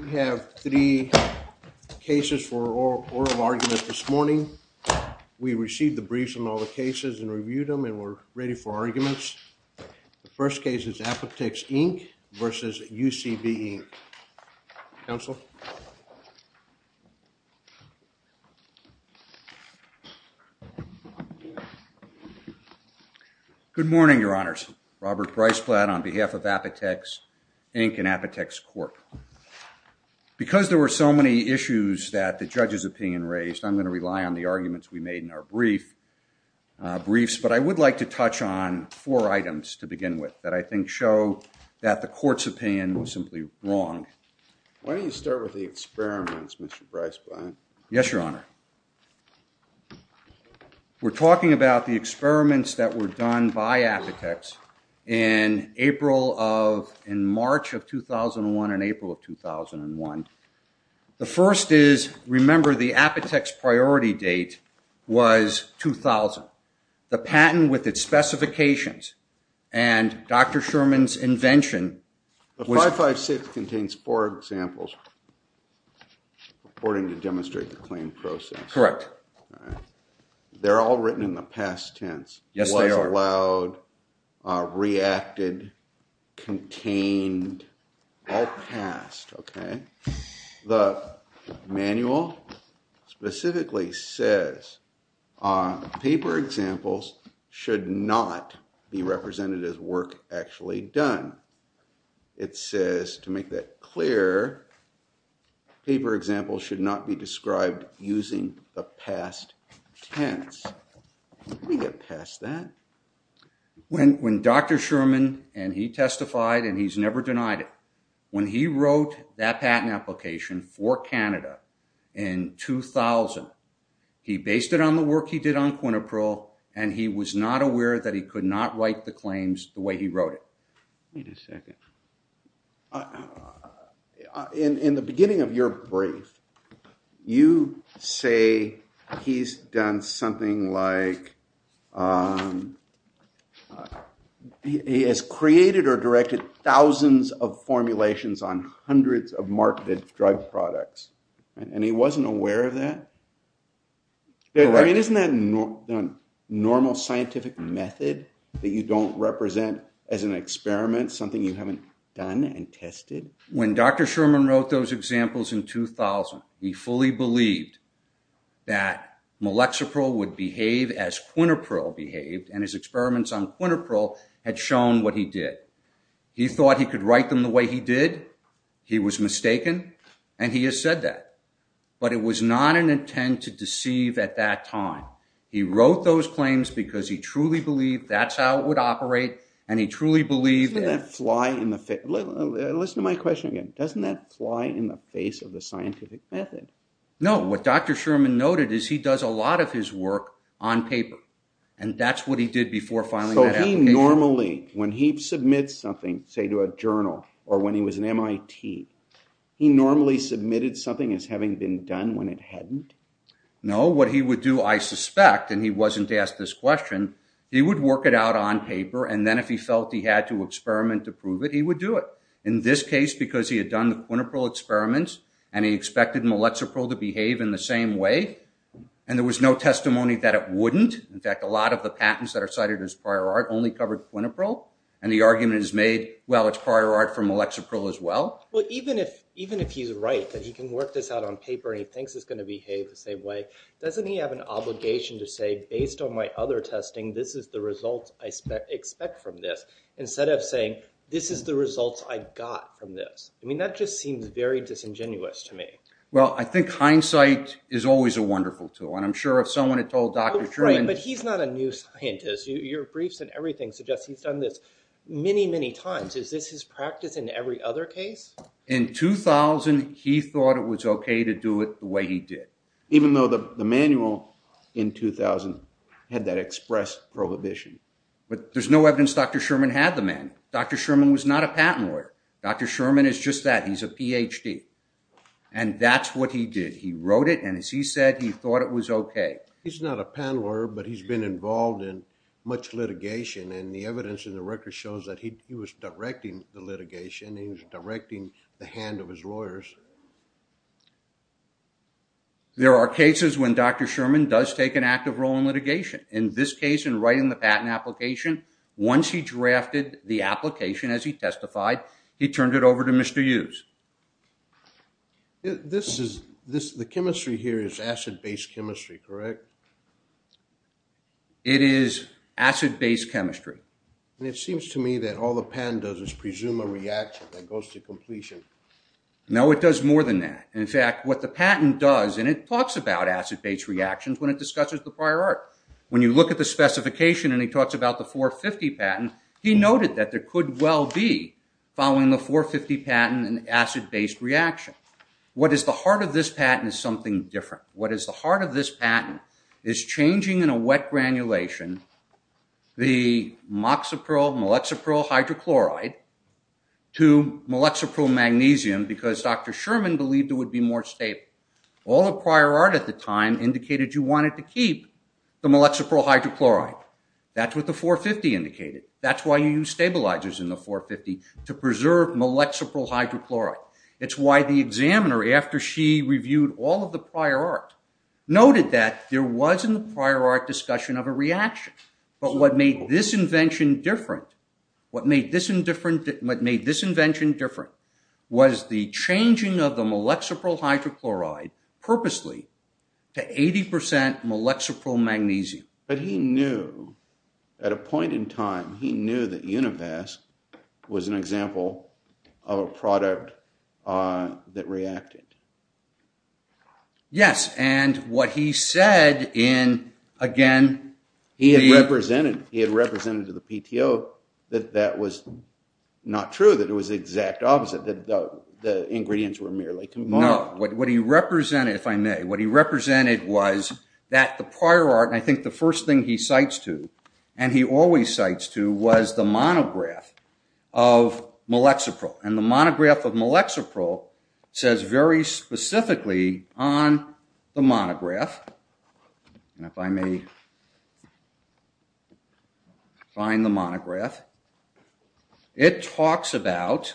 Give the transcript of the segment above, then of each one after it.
We have three cases for oral argument this morning. We received the briefs on all the cases and reviewed them and we're ready for arguments. The first case is Apotex, Inc. v. UCB, Inc. Counsel? Good morning, Your Honors. Robert Breisblatt on behalf of Apotex, Inc. and Apotex Court. Because there were so many issues that the judge's opinion raised, I'm going to rely on the arguments we made in our briefs, but I would like to touch on four items to begin with that I think show that the court's opinion was simply wrong. Why don't you start with the experiments, Mr. Breisblatt? Yes, Your Honor. We're talking about the experiments that were done by Apotex in March of 2001 and April of 2001. The first is, remember, the Apotex priority date was 2000. The patent with its specifications and Dr. Sherman's invention was— These four examples, according to demonstrate the claim process, they're all written in the past tense, was allowed, reacted, contained, all passed. The manual specifically says paper examples should not be represented as work actually done. It says, to make that clear, paper examples should not be described using the past tense. Let me get past that. When Dr. Sherman, and he testified, and he's never denied it, when he wrote that patent application for Canada in 2000, he based it on the work he did on Quinnapril, and he was not aware that he could not write the claims the way he wrote it. Wait a second. In the beginning of your brief, you say he's done something like, he has created or directed thousands of formulations on hundreds of marketed drug products, and he wasn't aware of that? Correct. Isn't that normal scientific method that you don't represent as an experiment, something you haven't done and tested? When Dr. Sherman wrote those examples in 2000, he fully believed that Malexapril would behave as Quinnapril behaved, and his experiments on Quinnapril had shown what he did. He thought he could write them the way he did. He was mistaken, and he has said that. But it was not an intent to deceive at that time. He wrote those claims because he truly believed that's how it would operate, and he truly believed that- Doesn't that fly in the face? Listen to my question again. Doesn't that fly in the face of the scientific method? No. What Dr. Sherman noted is he does a lot of his work on paper, and that's what he did before filing that application. So he normally, when he submits something, say to a journal, or when he was in MIT, he normally submitted something as having been done when it hadn't? No. What he would do, I suspect, and he wasn't asked this question, he would work it out on paper, and then if he felt he had to experiment to prove it, he would do it. In this case, because he had done the Quinnapril experiments, and he expected Malexapril to behave in the same way, and there was no testimony that it wouldn't. In fact, a lot of the patents that are cited as prior art only covered Quinnapril, and the argument is made, well, it's prior art for Malexapril as well. Well, even if he's right, that he can work this out on paper, and he thinks it's going to behave the same way, doesn't he have an obligation to say, based on my other testing, this is the result I expect from this, instead of saying, this is the result I got from this? I mean, that just seems very disingenuous to me. Well, I think hindsight is always a wonderful tool, and I'm sure if someone had told Dr. Sherman... Right, but he's not a new scientist. Your briefs and everything suggest he's done this many, many times. Is this his practice in every other case? In 2000, he thought it was okay to do it the way he did. Even though the manual in 2000 had that express prohibition. But there's no evidence Dr. Sherman had the manual. Dr. Sherman was not a patent lawyer. Dr. Sherman is just that, he's a PhD, and that's what he did. He wrote it, and as he said, he thought it was okay. He's not a patent lawyer, but he's been involved in much litigation, and the evidence in the case was that he was directing the litigation, and he was directing the hand of his lawyers. There are cases when Dr. Sherman does take an active role in litigation. In this case, in writing the patent application, once he drafted the application, as he testified, he turned it over to Mr. Hughes. The chemistry here is acid-based chemistry, correct? It is acid-based chemistry. It seems to me that all the patent does is presume a reaction that goes to completion. No, it does more than that. In fact, what the patent does, and it talks about acid-based reactions when it discusses the prior art. When you look at the specification, and he talks about the 450 patent, he noted that there could well be, following the 450 patent, an acid-based reaction. What is the heart of this patent is something different. What is the heart of this patent is changing in a wet granulation the moxipryl-maloxypryl hydrochloride to maloxypryl magnesium, because Dr. Sherman believed it would be more stable. All the prior art at the time indicated you wanted to keep the maloxypryl hydrochloride. That's what the 450 indicated. That's why you use stabilizers in the 450 to preserve maloxypryl hydrochloride. It's why the examiner, after she reviewed all of the prior art, noted that there was in the prior art discussion of a reaction. But what made this invention different was the changing of the molexypryl hydrochloride purposely to 80% molexypryl magnesium. But he knew, at a point in time, he knew that Univask was an example of a product that reacted. Yes, and what he said in, again, the... He had represented to the PTO that that was not true, that it was the exact opposite, that the ingredients were merely combined. No, what he represented, if I may, what he represented was that the prior art, and I think the first thing he cites to, and he always cites to, was the monograph of molexypryl. And the monograph of molexypryl says very specifically on the monograph, if I may find the monograph, it talks about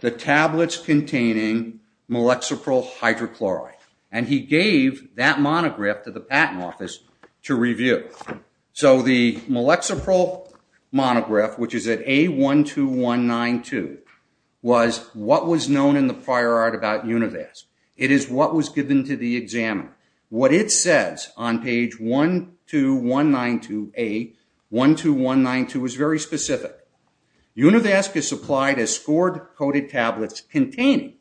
the tablets containing molexypryl hydrochloride. And he gave that monograph to the patent office to review. So the molexypryl monograph, which is at A12192, was what was known in the prior art about Univask. It is what was given to the examiner. What it says on page 12192A, 12192, is very specific. Univask is supplied as scored-coated tablets containing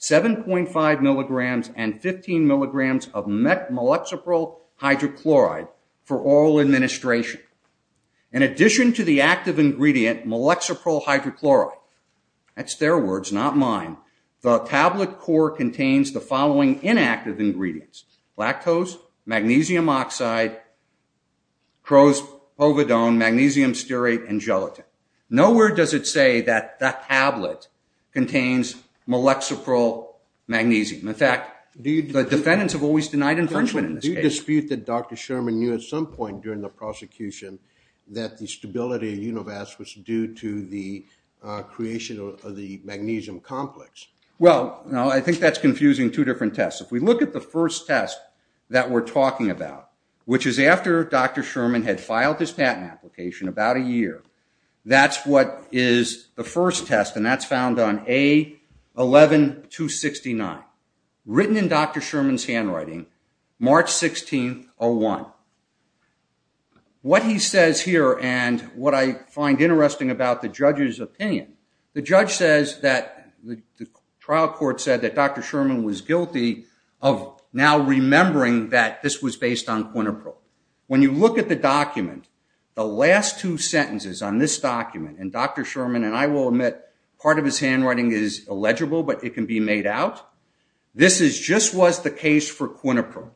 7.5 milligrams and 15 milligrams of molexypryl hydrochloride for oral administration. In addition to the active ingredient, molexypryl hydrochloride, that's their words, not mine, the tablet core contains the following inactive ingredients, lactose, magnesium oxide, cro-povidone, magnesium stearate, and gelatin. Nowhere does it say that that tablet contains molexypryl magnesium. In fact, the defendants have always denied infringement in this case. Do you dispute that Dr. Sherman knew at some point during the prosecution that the stability of Univask was due to the creation of the magnesium complex? Well, I think that's confusing two different tests. If we look at the first test that we're talking about, which is after Dr. Sherman had filed his patent application, about a year, that's what is the first test, and that's found on A11269, written in Dr. Sherman's handwriting, March 16th, 2001. What he says here, and what I find interesting about the judge's opinion, the judge says that the trial court said that Dr. Sherman was guilty of now remembering that this was based on Quinipro. When you look at the document, the last two sentences on this document, and Dr. Sherman and I will admit, part of his handwriting is illegible, but it can be made out. This just was the case for Quinipro.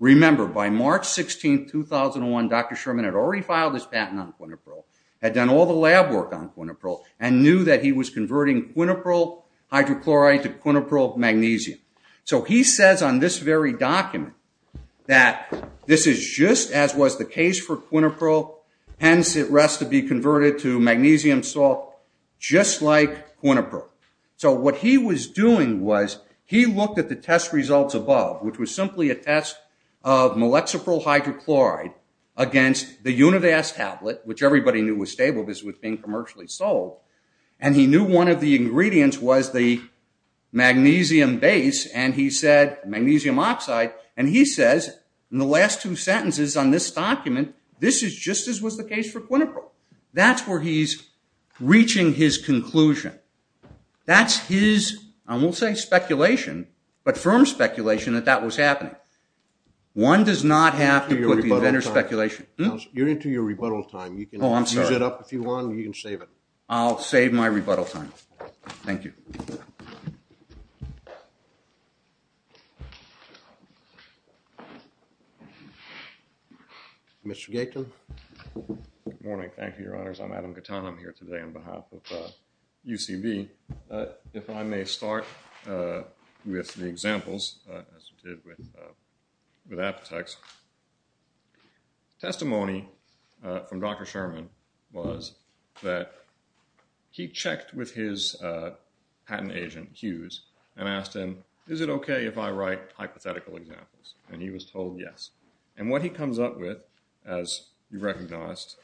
Remember, by March 16th, 2001, Dr. Sherman had already filed his patent on Quinipro, had done all the lab work on Quinipro, and knew that he was converting Quinipro hydrochloride to Quinipro magnesium. He says on this very document that this is just as was the case for Quinipro, hence it rests to be converted to magnesium salt, just like Quinipro. What he was doing was, he looked at the test results above, which was simply a test of molexiprohydrochloride against the Univast tablet, which everybody knew was stable because it was being commercially sold, and he knew one of the ingredients was the magnesium base, and he said, magnesium oxide, and he says, in the last two sentences on this document, this is just as was the case for Quinipro. That's where he's reaching his conclusion. That's his, I won't say speculation, but firm speculation that that was happening. One does not have to put the inventor's speculation... You're into your rebuttal time. Oh, I'm sorry. You can use it up if you want, or you can save it. I'll save my rebuttal time. Thank you. Mr. Gaten. Good morning. Thank you, Your Honors. I'm Adam Gaten. I'm here today on behalf of UCB. If I may start with the examples, as we did with Apotex, testimony from Dr. Sherman was that he checked with his patent agent, Hughes, and asked him, is it okay if I write hypothetical examples? And he was told yes. And what he comes up with, as you recognized,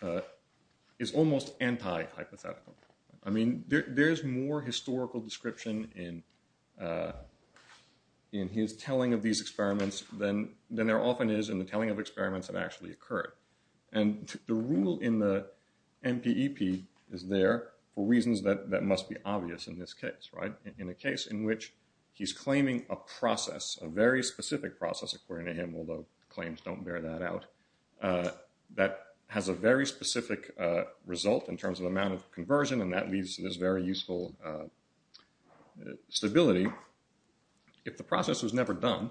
is almost anti-hypothetical. I mean, there's more historical description in his telling of these experiments than there often is in the telling of experiments that actually occurred. And the rule in the MPEP is there for reasons that must be obvious in this case, right? In a case in which he's claiming a process, a very specific process, according to him, although claims don't bear that out, that has a very specific result in terms of amount of conversion, and that leaves this very useful stability. If the process was never done,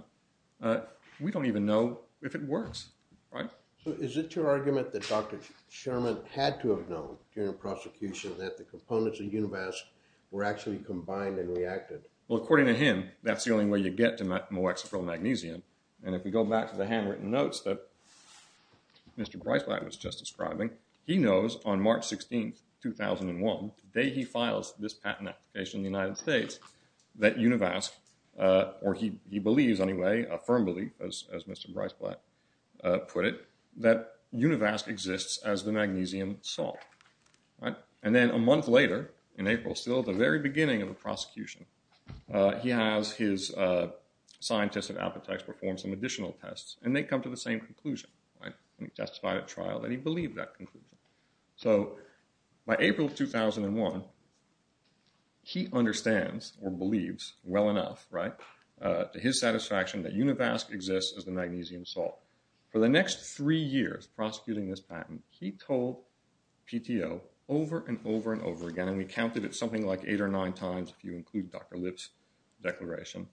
we don't even know if it works, right? Is it your argument that Dr. Sherman had to have known during prosecution that the components of Univask were actually combined and reacted? Well, according to him, that's the only way you get to molexicrylmagnesium. And if we go back to the handwritten notes that Mr. Breisbach was just describing, he says in 2001, the day he files this patent application in the United States, that Univask, or he believes anyway, a firm belief, as Mr. Breisbach put it, that Univask exists as the magnesium salt, right? And then a month later, in April, still at the very beginning of the prosecution, he has his scientists at Apotex perform some additional tests, and they come to the same conclusion, right? And he testified at trial that he believed that conclusion. So by April of 2001, he understands or believes well enough, right, to his satisfaction that Univask exists as the magnesium salt. For the next three years prosecuting this patent, he told PTO over and over and over again, and we counted it something like eight or nine times, if you include Dr. Lipp's declaration,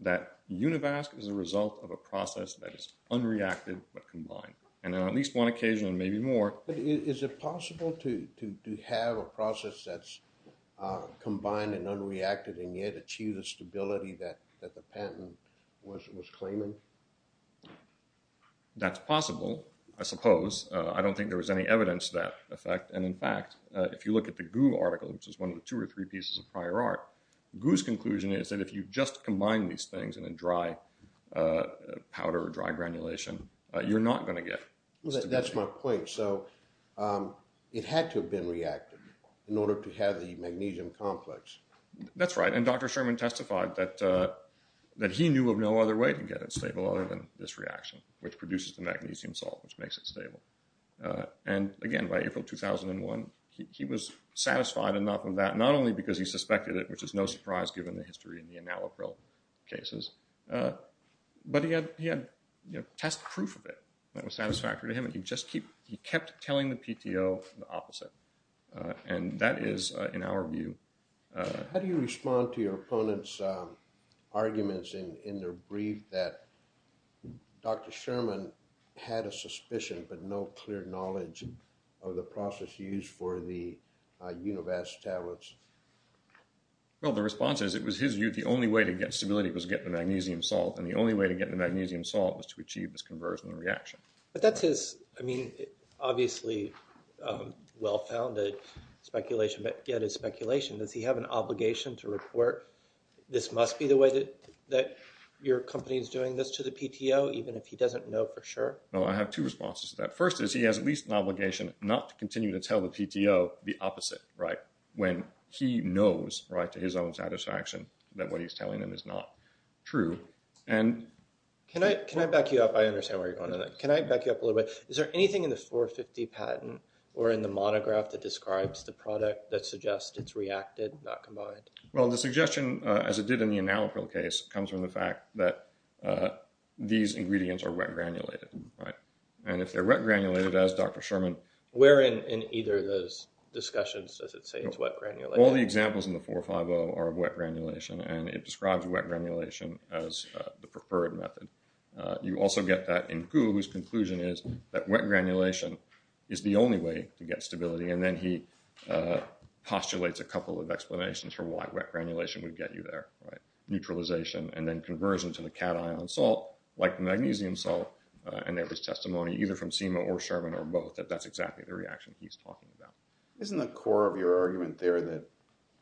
that Univask is a result of a process that is unreacted but combined. And on at least one occasion, and maybe more. But is it possible to have a process that's combined and unreacted and yet achieve the stability that the patent was claiming? That's possible, I suppose. I don't think there was any evidence of that effect. And in fact, if you look at the GU article, which is one of the two or three pieces of prior art, GU's conclusion is that if you just combine these things in a dry powder or dry granulation, you're not going to get stability. That's my point. So it had to have been reactive in order to have the magnesium complex. That's right. And Dr. Sherman testified that he knew of no other way to get it stable other than this reaction, which produces the magnesium salt, which makes it stable. And again, by April 2001, he was satisfied enough with that, not only because he suspected it, which is no surprise given the history in the analog cases. But he had test proof of it that was satisfactory to him. And he kept telling the PTO the opposite. And that is, in our view... How do you respond to your opponent's arguments in their brief that Dr. Sherman had a suspicion but no clear knowledge of the process used for the univax tablets? Well, the response is it was his view the only way to get stability was to get the magnesium salt. And the only way to get the magnesium salt was to achieve this conversion reaction. But that's his, I mean, obviously well-founded speculation, but yet it's speculation. Does he have an obligation to report this must be the way that your company is doing this to the PTO, even if he doesn't know for sure? Well, I have two responses to that. First is he has at least an obligation not to continue to tell the PTO the opposite, when he knows to his own satisfaction that what he's telling them is not true. And... Can I back you up? I understand where you're going with that. Can I back you up a little bit? Is there anything in the 450 patent or in the monograph that describes the product that suggests it's reacted, not combined? Well, the suggestion, as it did in the analog case, comes from the fact that these ingredients are wet granulated, right? And if they're wet granulated, as Dr. Sherman... Where in either of those discussions does it say it's wet granulated? All the examples in the 450 are of wet granulation, and it describes wet granulation as the preferred method. You also get that in Hu, whose conclusion is that wet granulation is the only way to get stability. And then he postulates a couple of explanations for why wet granulation would get you there, right? Like the magnesium salt, and there was testimony either from SEMA or Sherman or both that that's exactly the reaction he's talking about. Isn't the core of your argument there that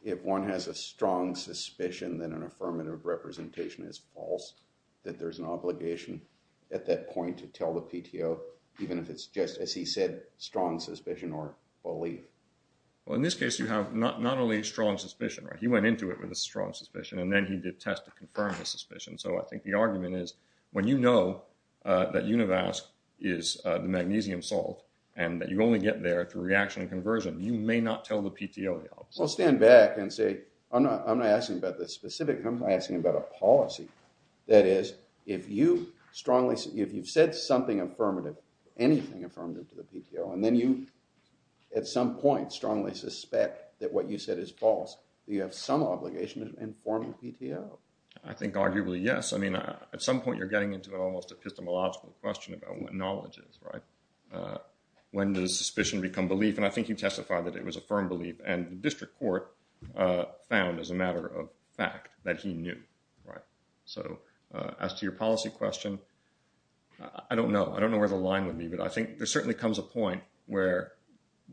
if one has a strong suspicion that an affirmative representation is false, that there's an obligation at that point to tell the PTO, even if it's just, as he said, strong suspicion or belief? Well, in this case, you have not only strong suspicion, right? He went into it with a strong suspicion, and then he did tests to confirm the suspicion. So I think the argument is, when you know that univasc is the magnesium salt, and that you only get there through reaction and conversion, you may not tell the PTO the opposite. Well, stand back and say, I'm not asking about the specific, I'm asking about a policy. That is, if you've said something affirmative, anything affirmative to the PTO, and then you at some point strongly suspect that what you said is false, you have some obligation to inform the PTO. I think arguably, yes. I mean, at some point, you're getting into an almost epistemological question about what knowledge is, right? When does suspicion become belief? And I think he testified that it was a firm belief, and the district court found as a matter of fact that he knew, right? So as to your policy question, I don't know. I don't know where the line would be, but I think there certainly comes a point where,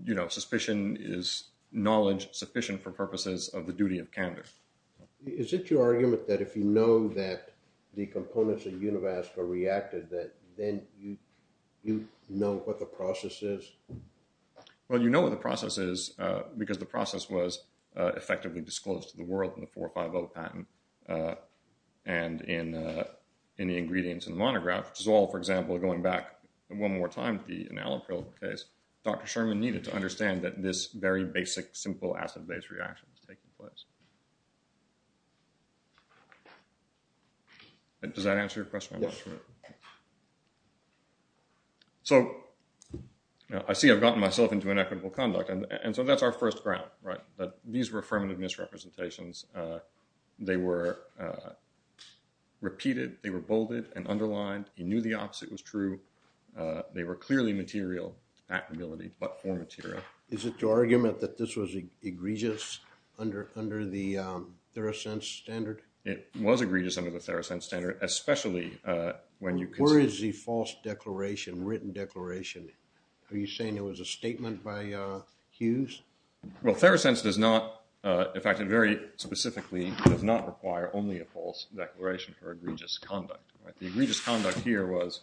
you know, suspicion is knowledge sufficient for purposes of the duty of candor. Is it your argument that if you know that the components of Univasc are reacted, that then you know what the process is? Well, you know what the process is because the process was effectively disclosed to the world in the 450 patent and in the ingredients in the monograph, which is all, for example, going back one more time to the enalapril case, Dr. Sherman needed to understand that this very basic, simple acid-base reaction was taking place. Does that answer your question? Yes, sir. So I see I've gotten myself into inequitable conduct, and so that's our first ground, right? These were affirmative misrepresentations. They were repeated, they were bolded and underlined, he knew the opposite was true. They were clearly material actability, but poor material. Is it your argument that this was egregious under the Theracense standard? It was egregious under the Theracense standard, especially when you consider... Where is the false declaration, written declaration? Are you saying it was a statement by Hughes? Well, Theracense does not, in fact, very specifically, does not require only a false declaration for egregious conduct. The egregious conduct here was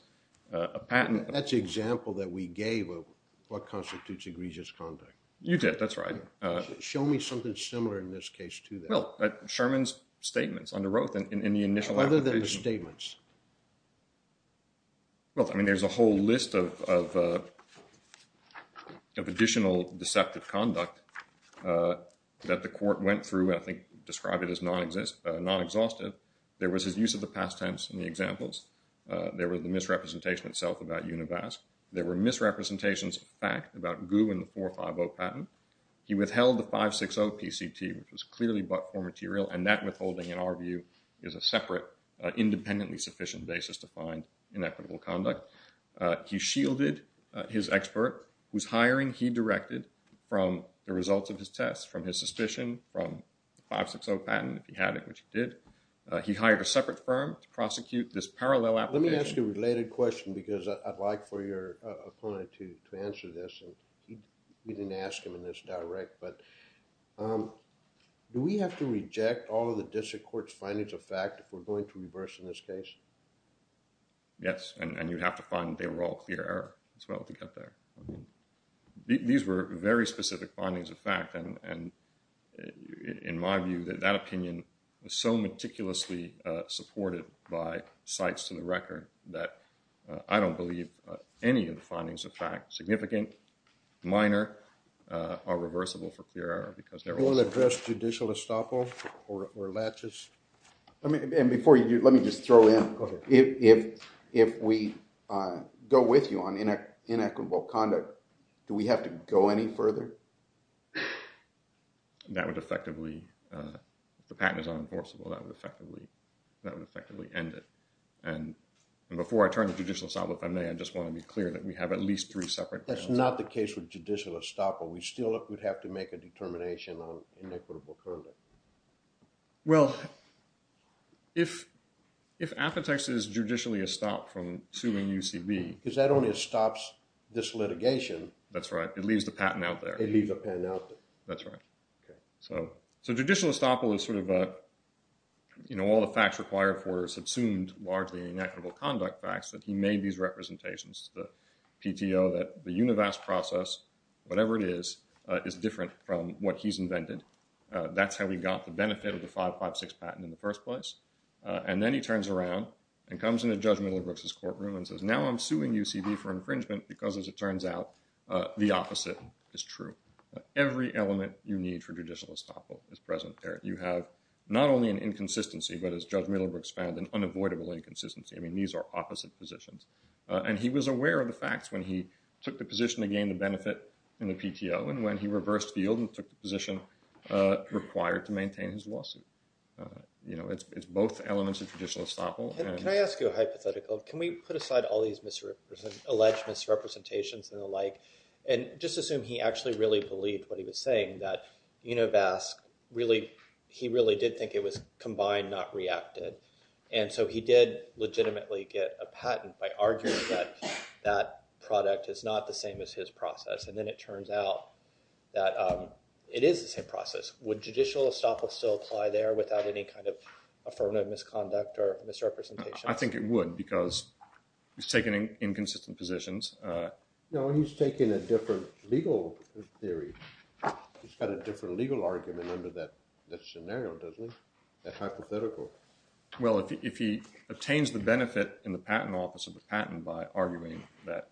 a patent... That's the example that we gave of what constitutes egregious conduct. You did, that's right. Show me something similar in this case to that. Well, Sherman's statements under Roeth in the initial... Other than the statements. Well, I mean, there's a whole list of additional deceptive conduct that the court went through, I think described it as non-exhaustive. There was his use of the past tense in the examples. There were the misrepresentation itself about Univask. There were misrepresentations of fact about Gu and the 450 patent. He withheld the 560 PCT, which was clearly but for material, and that withholding in our view is a separate, independently sufficient basis to find inequitable conduct. He shielded his expert whose hiring he directed from the results of his tests, from his suspicion from the 560 patent, if he had it, which he did. He hired a separate firm to prosecute this parallel application. Let me ask you a related question because I'd like for your opponent to answer this. And we didn't ask him in this direct, but do we have to reject all of the district court's findings of fact if we're going to reverse in this case? Yes, and you'd have to find they were all clear error as well to get there. These were very specific findings of fact, and in my view, that that opinion is so meticulously supported by sites to the record that I don't believe any of the findings of fact, significant, minor, are reversible for clear error because they're all... You will address judicial estoppel or latches? And before you do, let me just throw in... Go ahead. If we go with you on inequitable conduct, do we have to go any further? That would effectively, if the patent is unenforceable, that would effectively end it. And before I turn to judicial estoppel, if I may, I just want to be clear that we have at least three separate... That's not the case with judicial estoppel. We still would have to make a determination on inequitable conduct. Well, if Aphitex is judicially estopped from suing UCB... Because that only estops this litigation. That's right. It leaves the patent out there. It leaves the patent out there. That's right. Okay. So, judicial estoppel is sort of a, you know, all the facts required for subsumed, largely inequitable conduct facts that he made these representations to the PTO that the univast process, whatever it is, is different from what he's invented. That's how we got the benefit of the 556 patent in the first place. And then he turns around and comes into Judge Middlebrooks' courtroom and says, now I'm suing UCB for infringement because, as it turns out, the opposite is true. Every element you need for judicial estoppel is present there. You have not only an inconsistency, but as Judge Middlebrooks found, an unavoidable inconsistency. I mean, these are opposite positions. And he was aware of the facts when he took the position to gain the benefit in the PTO. And when he reversed the yield and took the position required to maintain his lawsuit. You know, it's both elements of judicial estoppel. Can I ask you a hypothetical? Can we put aside all these alleged misrepresentations and the like, and just assume he actually really believed what he was saying, that univast really, he really did think it was combined, not reacted. And so he did legitimately get a patent by arguing that that product is not the same as his process. And then it turns out that it is the same process. Would judicial estoppel still apply there without any kind of affirmative misconduct or misrepresentation? I think it would, because he's taken inconsistent positions. No, he's taken a different legal theory. He's got a different legal argument under that scenario, doesn't he? That hypothetical. Well, if he obtains the benefit in the patent office of the patent by arguing that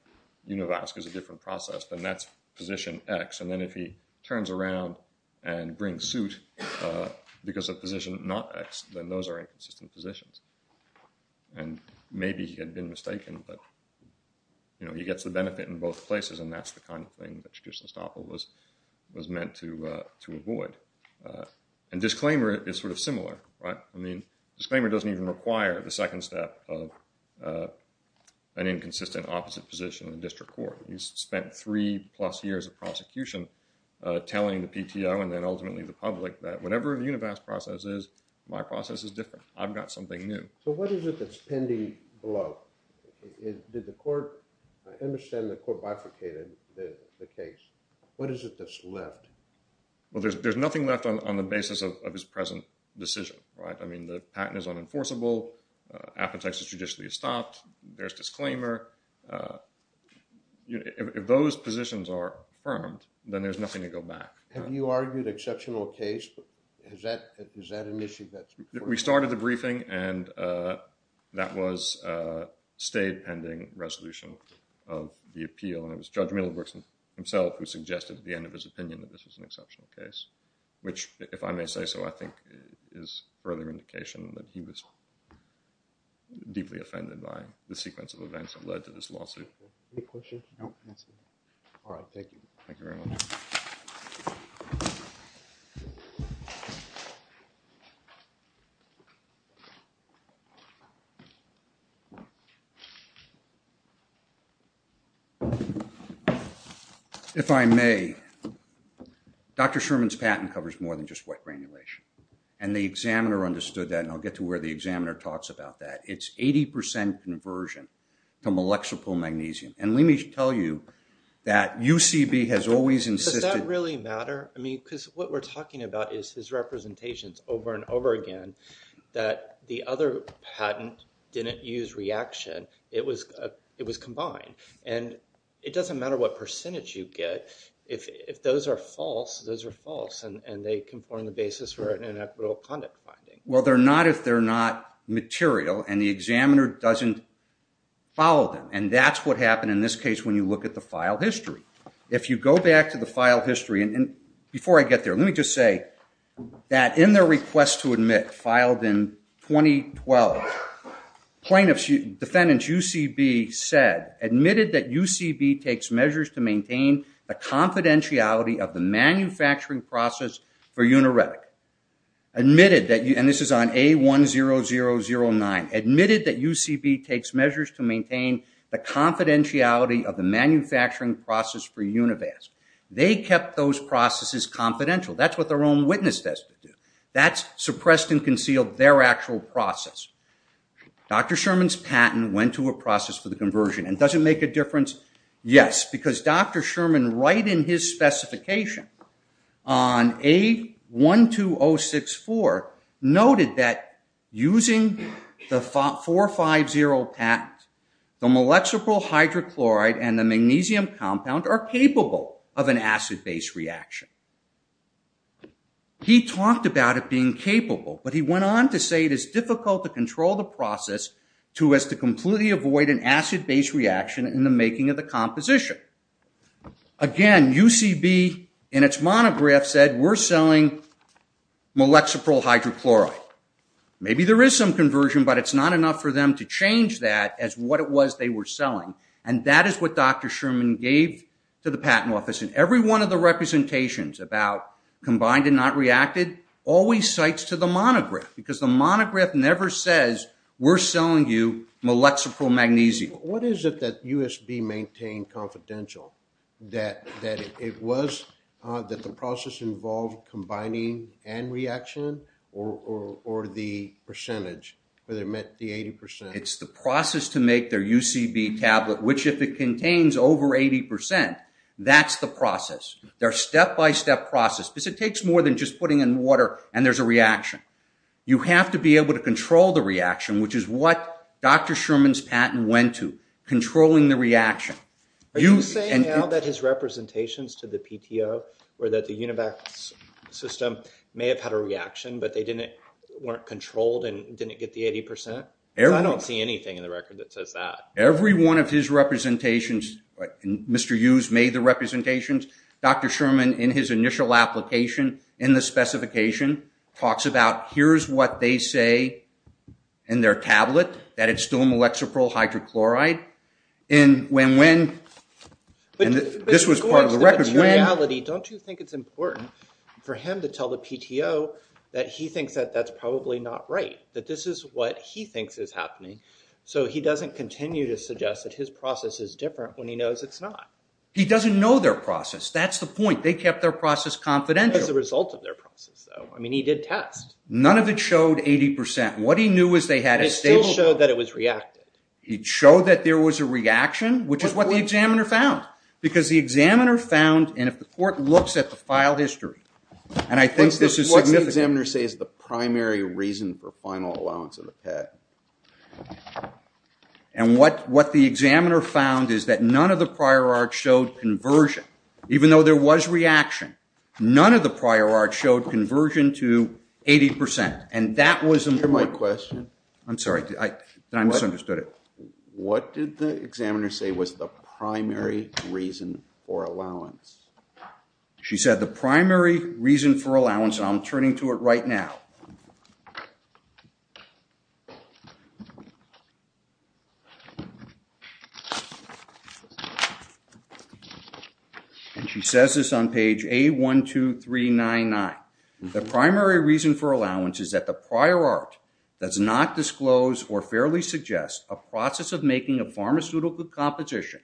univast is a different process, then that's position X. And then if he turns around and brings suit because of position not X, then those are inconsistent positions. And maybe he had been mistaken, but he gets the benefit in both places, and that's the kind of thing that judicial estoppel was meant to avoid. And disclaimer is sort of similar, right? I mean, disclaimer doesn't even require the second step of an inconsistent opposite position in the district court. He's spent three-plus years of prosecution telling the PTO and then ultimately the public that whenever a univast process is, my process is different. I've got something new. So what is it that's pending below? Did the court—I understand the court bifurcated the case. What is it that's left? Well, there's nothing left on the basis of his present decision, right? I mean, the patent is unenforceable. Apotex is judicially estopped. There's disclaimer. If those positions are affirmed, then there's nothing to go back. Have you argued exceptional case? Is that an issue that's important? We started the briefing, and that was a state-pending resolution of the appeal. And it was Judge Middlebrooks himself who suggested at the end of his opinion that this was an exceptional case, which, if I may say so, I think is further indication that he was deeply offended by the sequence of events that led to this lawsuit. Any questions? No? All right. Thank you. Thank you very much. If I may, Dr. Sherman's patent covers more than just white granulation, and the examiner understood that, and I'll get to where the examiner talks about that. It's 80% conversion to molecular magnesium. And let me tell you that UCB has always insisted— Does that really matter? I mean, because what we're talking about is his representations over and over again that the other patent didn't use reaction. It was combined. And it doesn't matter what percentage you get. If those are false, those are false. And they conform the basis for an inequitable conduct finding. Well, they're not if they're not material, and the examiner doesn't follow them. And that's what happened in this case when you look at the file history. If you go back to the file history—and before I get there, let me just say that in their request to admit, filed in 2012, plaintiff's—defendant's UCB said, admitted that UCB takes measures to maintain the confidentiality of the manufacturing process for Univasc. Admitted that—and this is on A10009—admitted that UCB takes measures to maintain the confidentiality of the manufacturing process for Univasc. They kept those processes confidential. That's what their own witness test did. That suppressed and concealed their actual process. Dr. Sherman's patent went to a process for the conversion. And does it make a difference? Yes, because Dr. Sherman, right in his specification on A12064, noted that using the 450 patent, the molecular hydrochloride and the magnesium compound are capable of an acid-base reaction. He talked about it being capable, but he went on to say it is difficult to control the process to as to completely avoid an acid-base reaction in the making of the composition. Again, UCB in its monograph said, we're selling molecular hydrochloride. Maybe there is some conversion, but it's not enough for them to change that as what it was they were selling. And that is what Dr. Sherman gave to the patent office. And every one of the representations about combined and not reacted, always cites to the monograph, because the monograph never says, we're selling you molexicromagnesium. What is it that USB maintained confidential? That it was, that the process involved combining and reaction, or the percentage, whether it meant the 80%? It's the process to make their UCB tablet, which if it contains over 80%, that's the process. They're step-by-step process, because it takes more than just putting in water and there's a reaction. You have to be able to control the reaction, which is what Dr. Sherman's patent went to, controlling the reaction. Are you saying now that his representations to the PTO, or that the UNIVAC system may have had a reaction, but they weren't controlled and didn't get the 80%? I don't see anything in the record that says that. Every one of his representations, Mr. Hughes made the representations. Dr. Sherman, in his initial application, in the specification, talks about here's what they say in their tablet, that it's still molexicryl hydrochloride. And when, this was part of the record. In reality, don't you think it's important for him to tell the PTO that he thinks that that's probably not right? That this is what he thinks is happening? So he doesn't continue to suggest that his process is different when he knows it's not? He doesn't know their process. That's the point. They kept their process confidential. What is the result of their process, though? I mean, he did test. None of it showed 80%. What he knew was they had a stage. It still showed that it was reacted. It showed that there was a reaction, which is what the examiner found. Because the examiner found, and if the court looks at the file history, and I think this is significant. What did the examiner say is the primary reason for final allowance of the PET? And what the examiner found is that none of the prior art showed conversion, even though there was reaction. None of the prior art showed conversion to 80%. Is that my question? I'm sorry. I misunderstood it. What did the examiner say was the primary reason for allowance? She said the primary reason for allowance, and I'm turning to it right now. And she says this on page A12399. The primary reason for allowance is that the prior art does not disclose or fairly suggest a process of making a pharmaceutical composition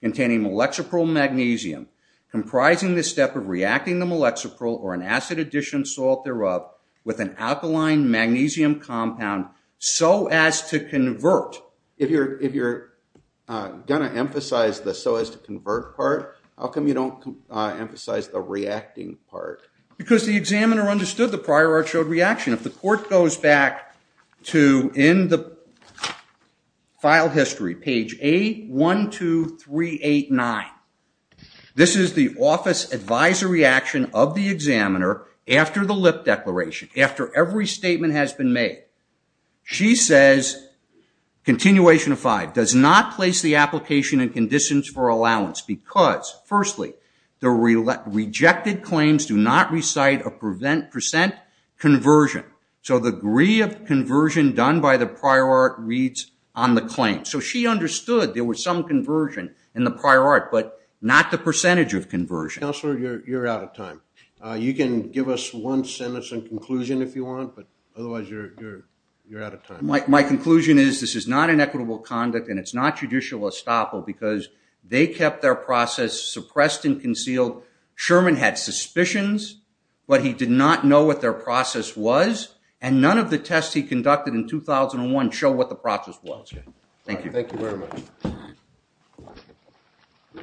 containing molexipro magnesium comprising the step of reacting the molexipro or an acid addition salt thereof with an alkaline magnesium compound so as to convert. If you're going to emphasize the so as to convert part, how come you don't emphasize the reacting part? Because the examiner understood the prior art showed reaction. If the court goes back to in the file history, page A12389, this is the office advisory action of the examiner after the lip declaration, after every statement has been made. She says, continuation of five, does not place the application in conditions for allowance because, firstly, the rejected claims do not recite a percent conversion. So the degree of conversion done by the prior art reads on the claim. So she understood there was some conversion in the prior art but not the percentage of conversion. Counselor, you're out of time. You can give us one sentence in conclusion if you want, but otherwise you're out of time. My conclusion is this is not an equitable conduct and it's not judicial estoppel because they kept their process suppressed and concealed. Sherman had suspicions but he did not know what their process was and none of the tests he conducted in 2001 show what the process was. Thank you. Thank you very much.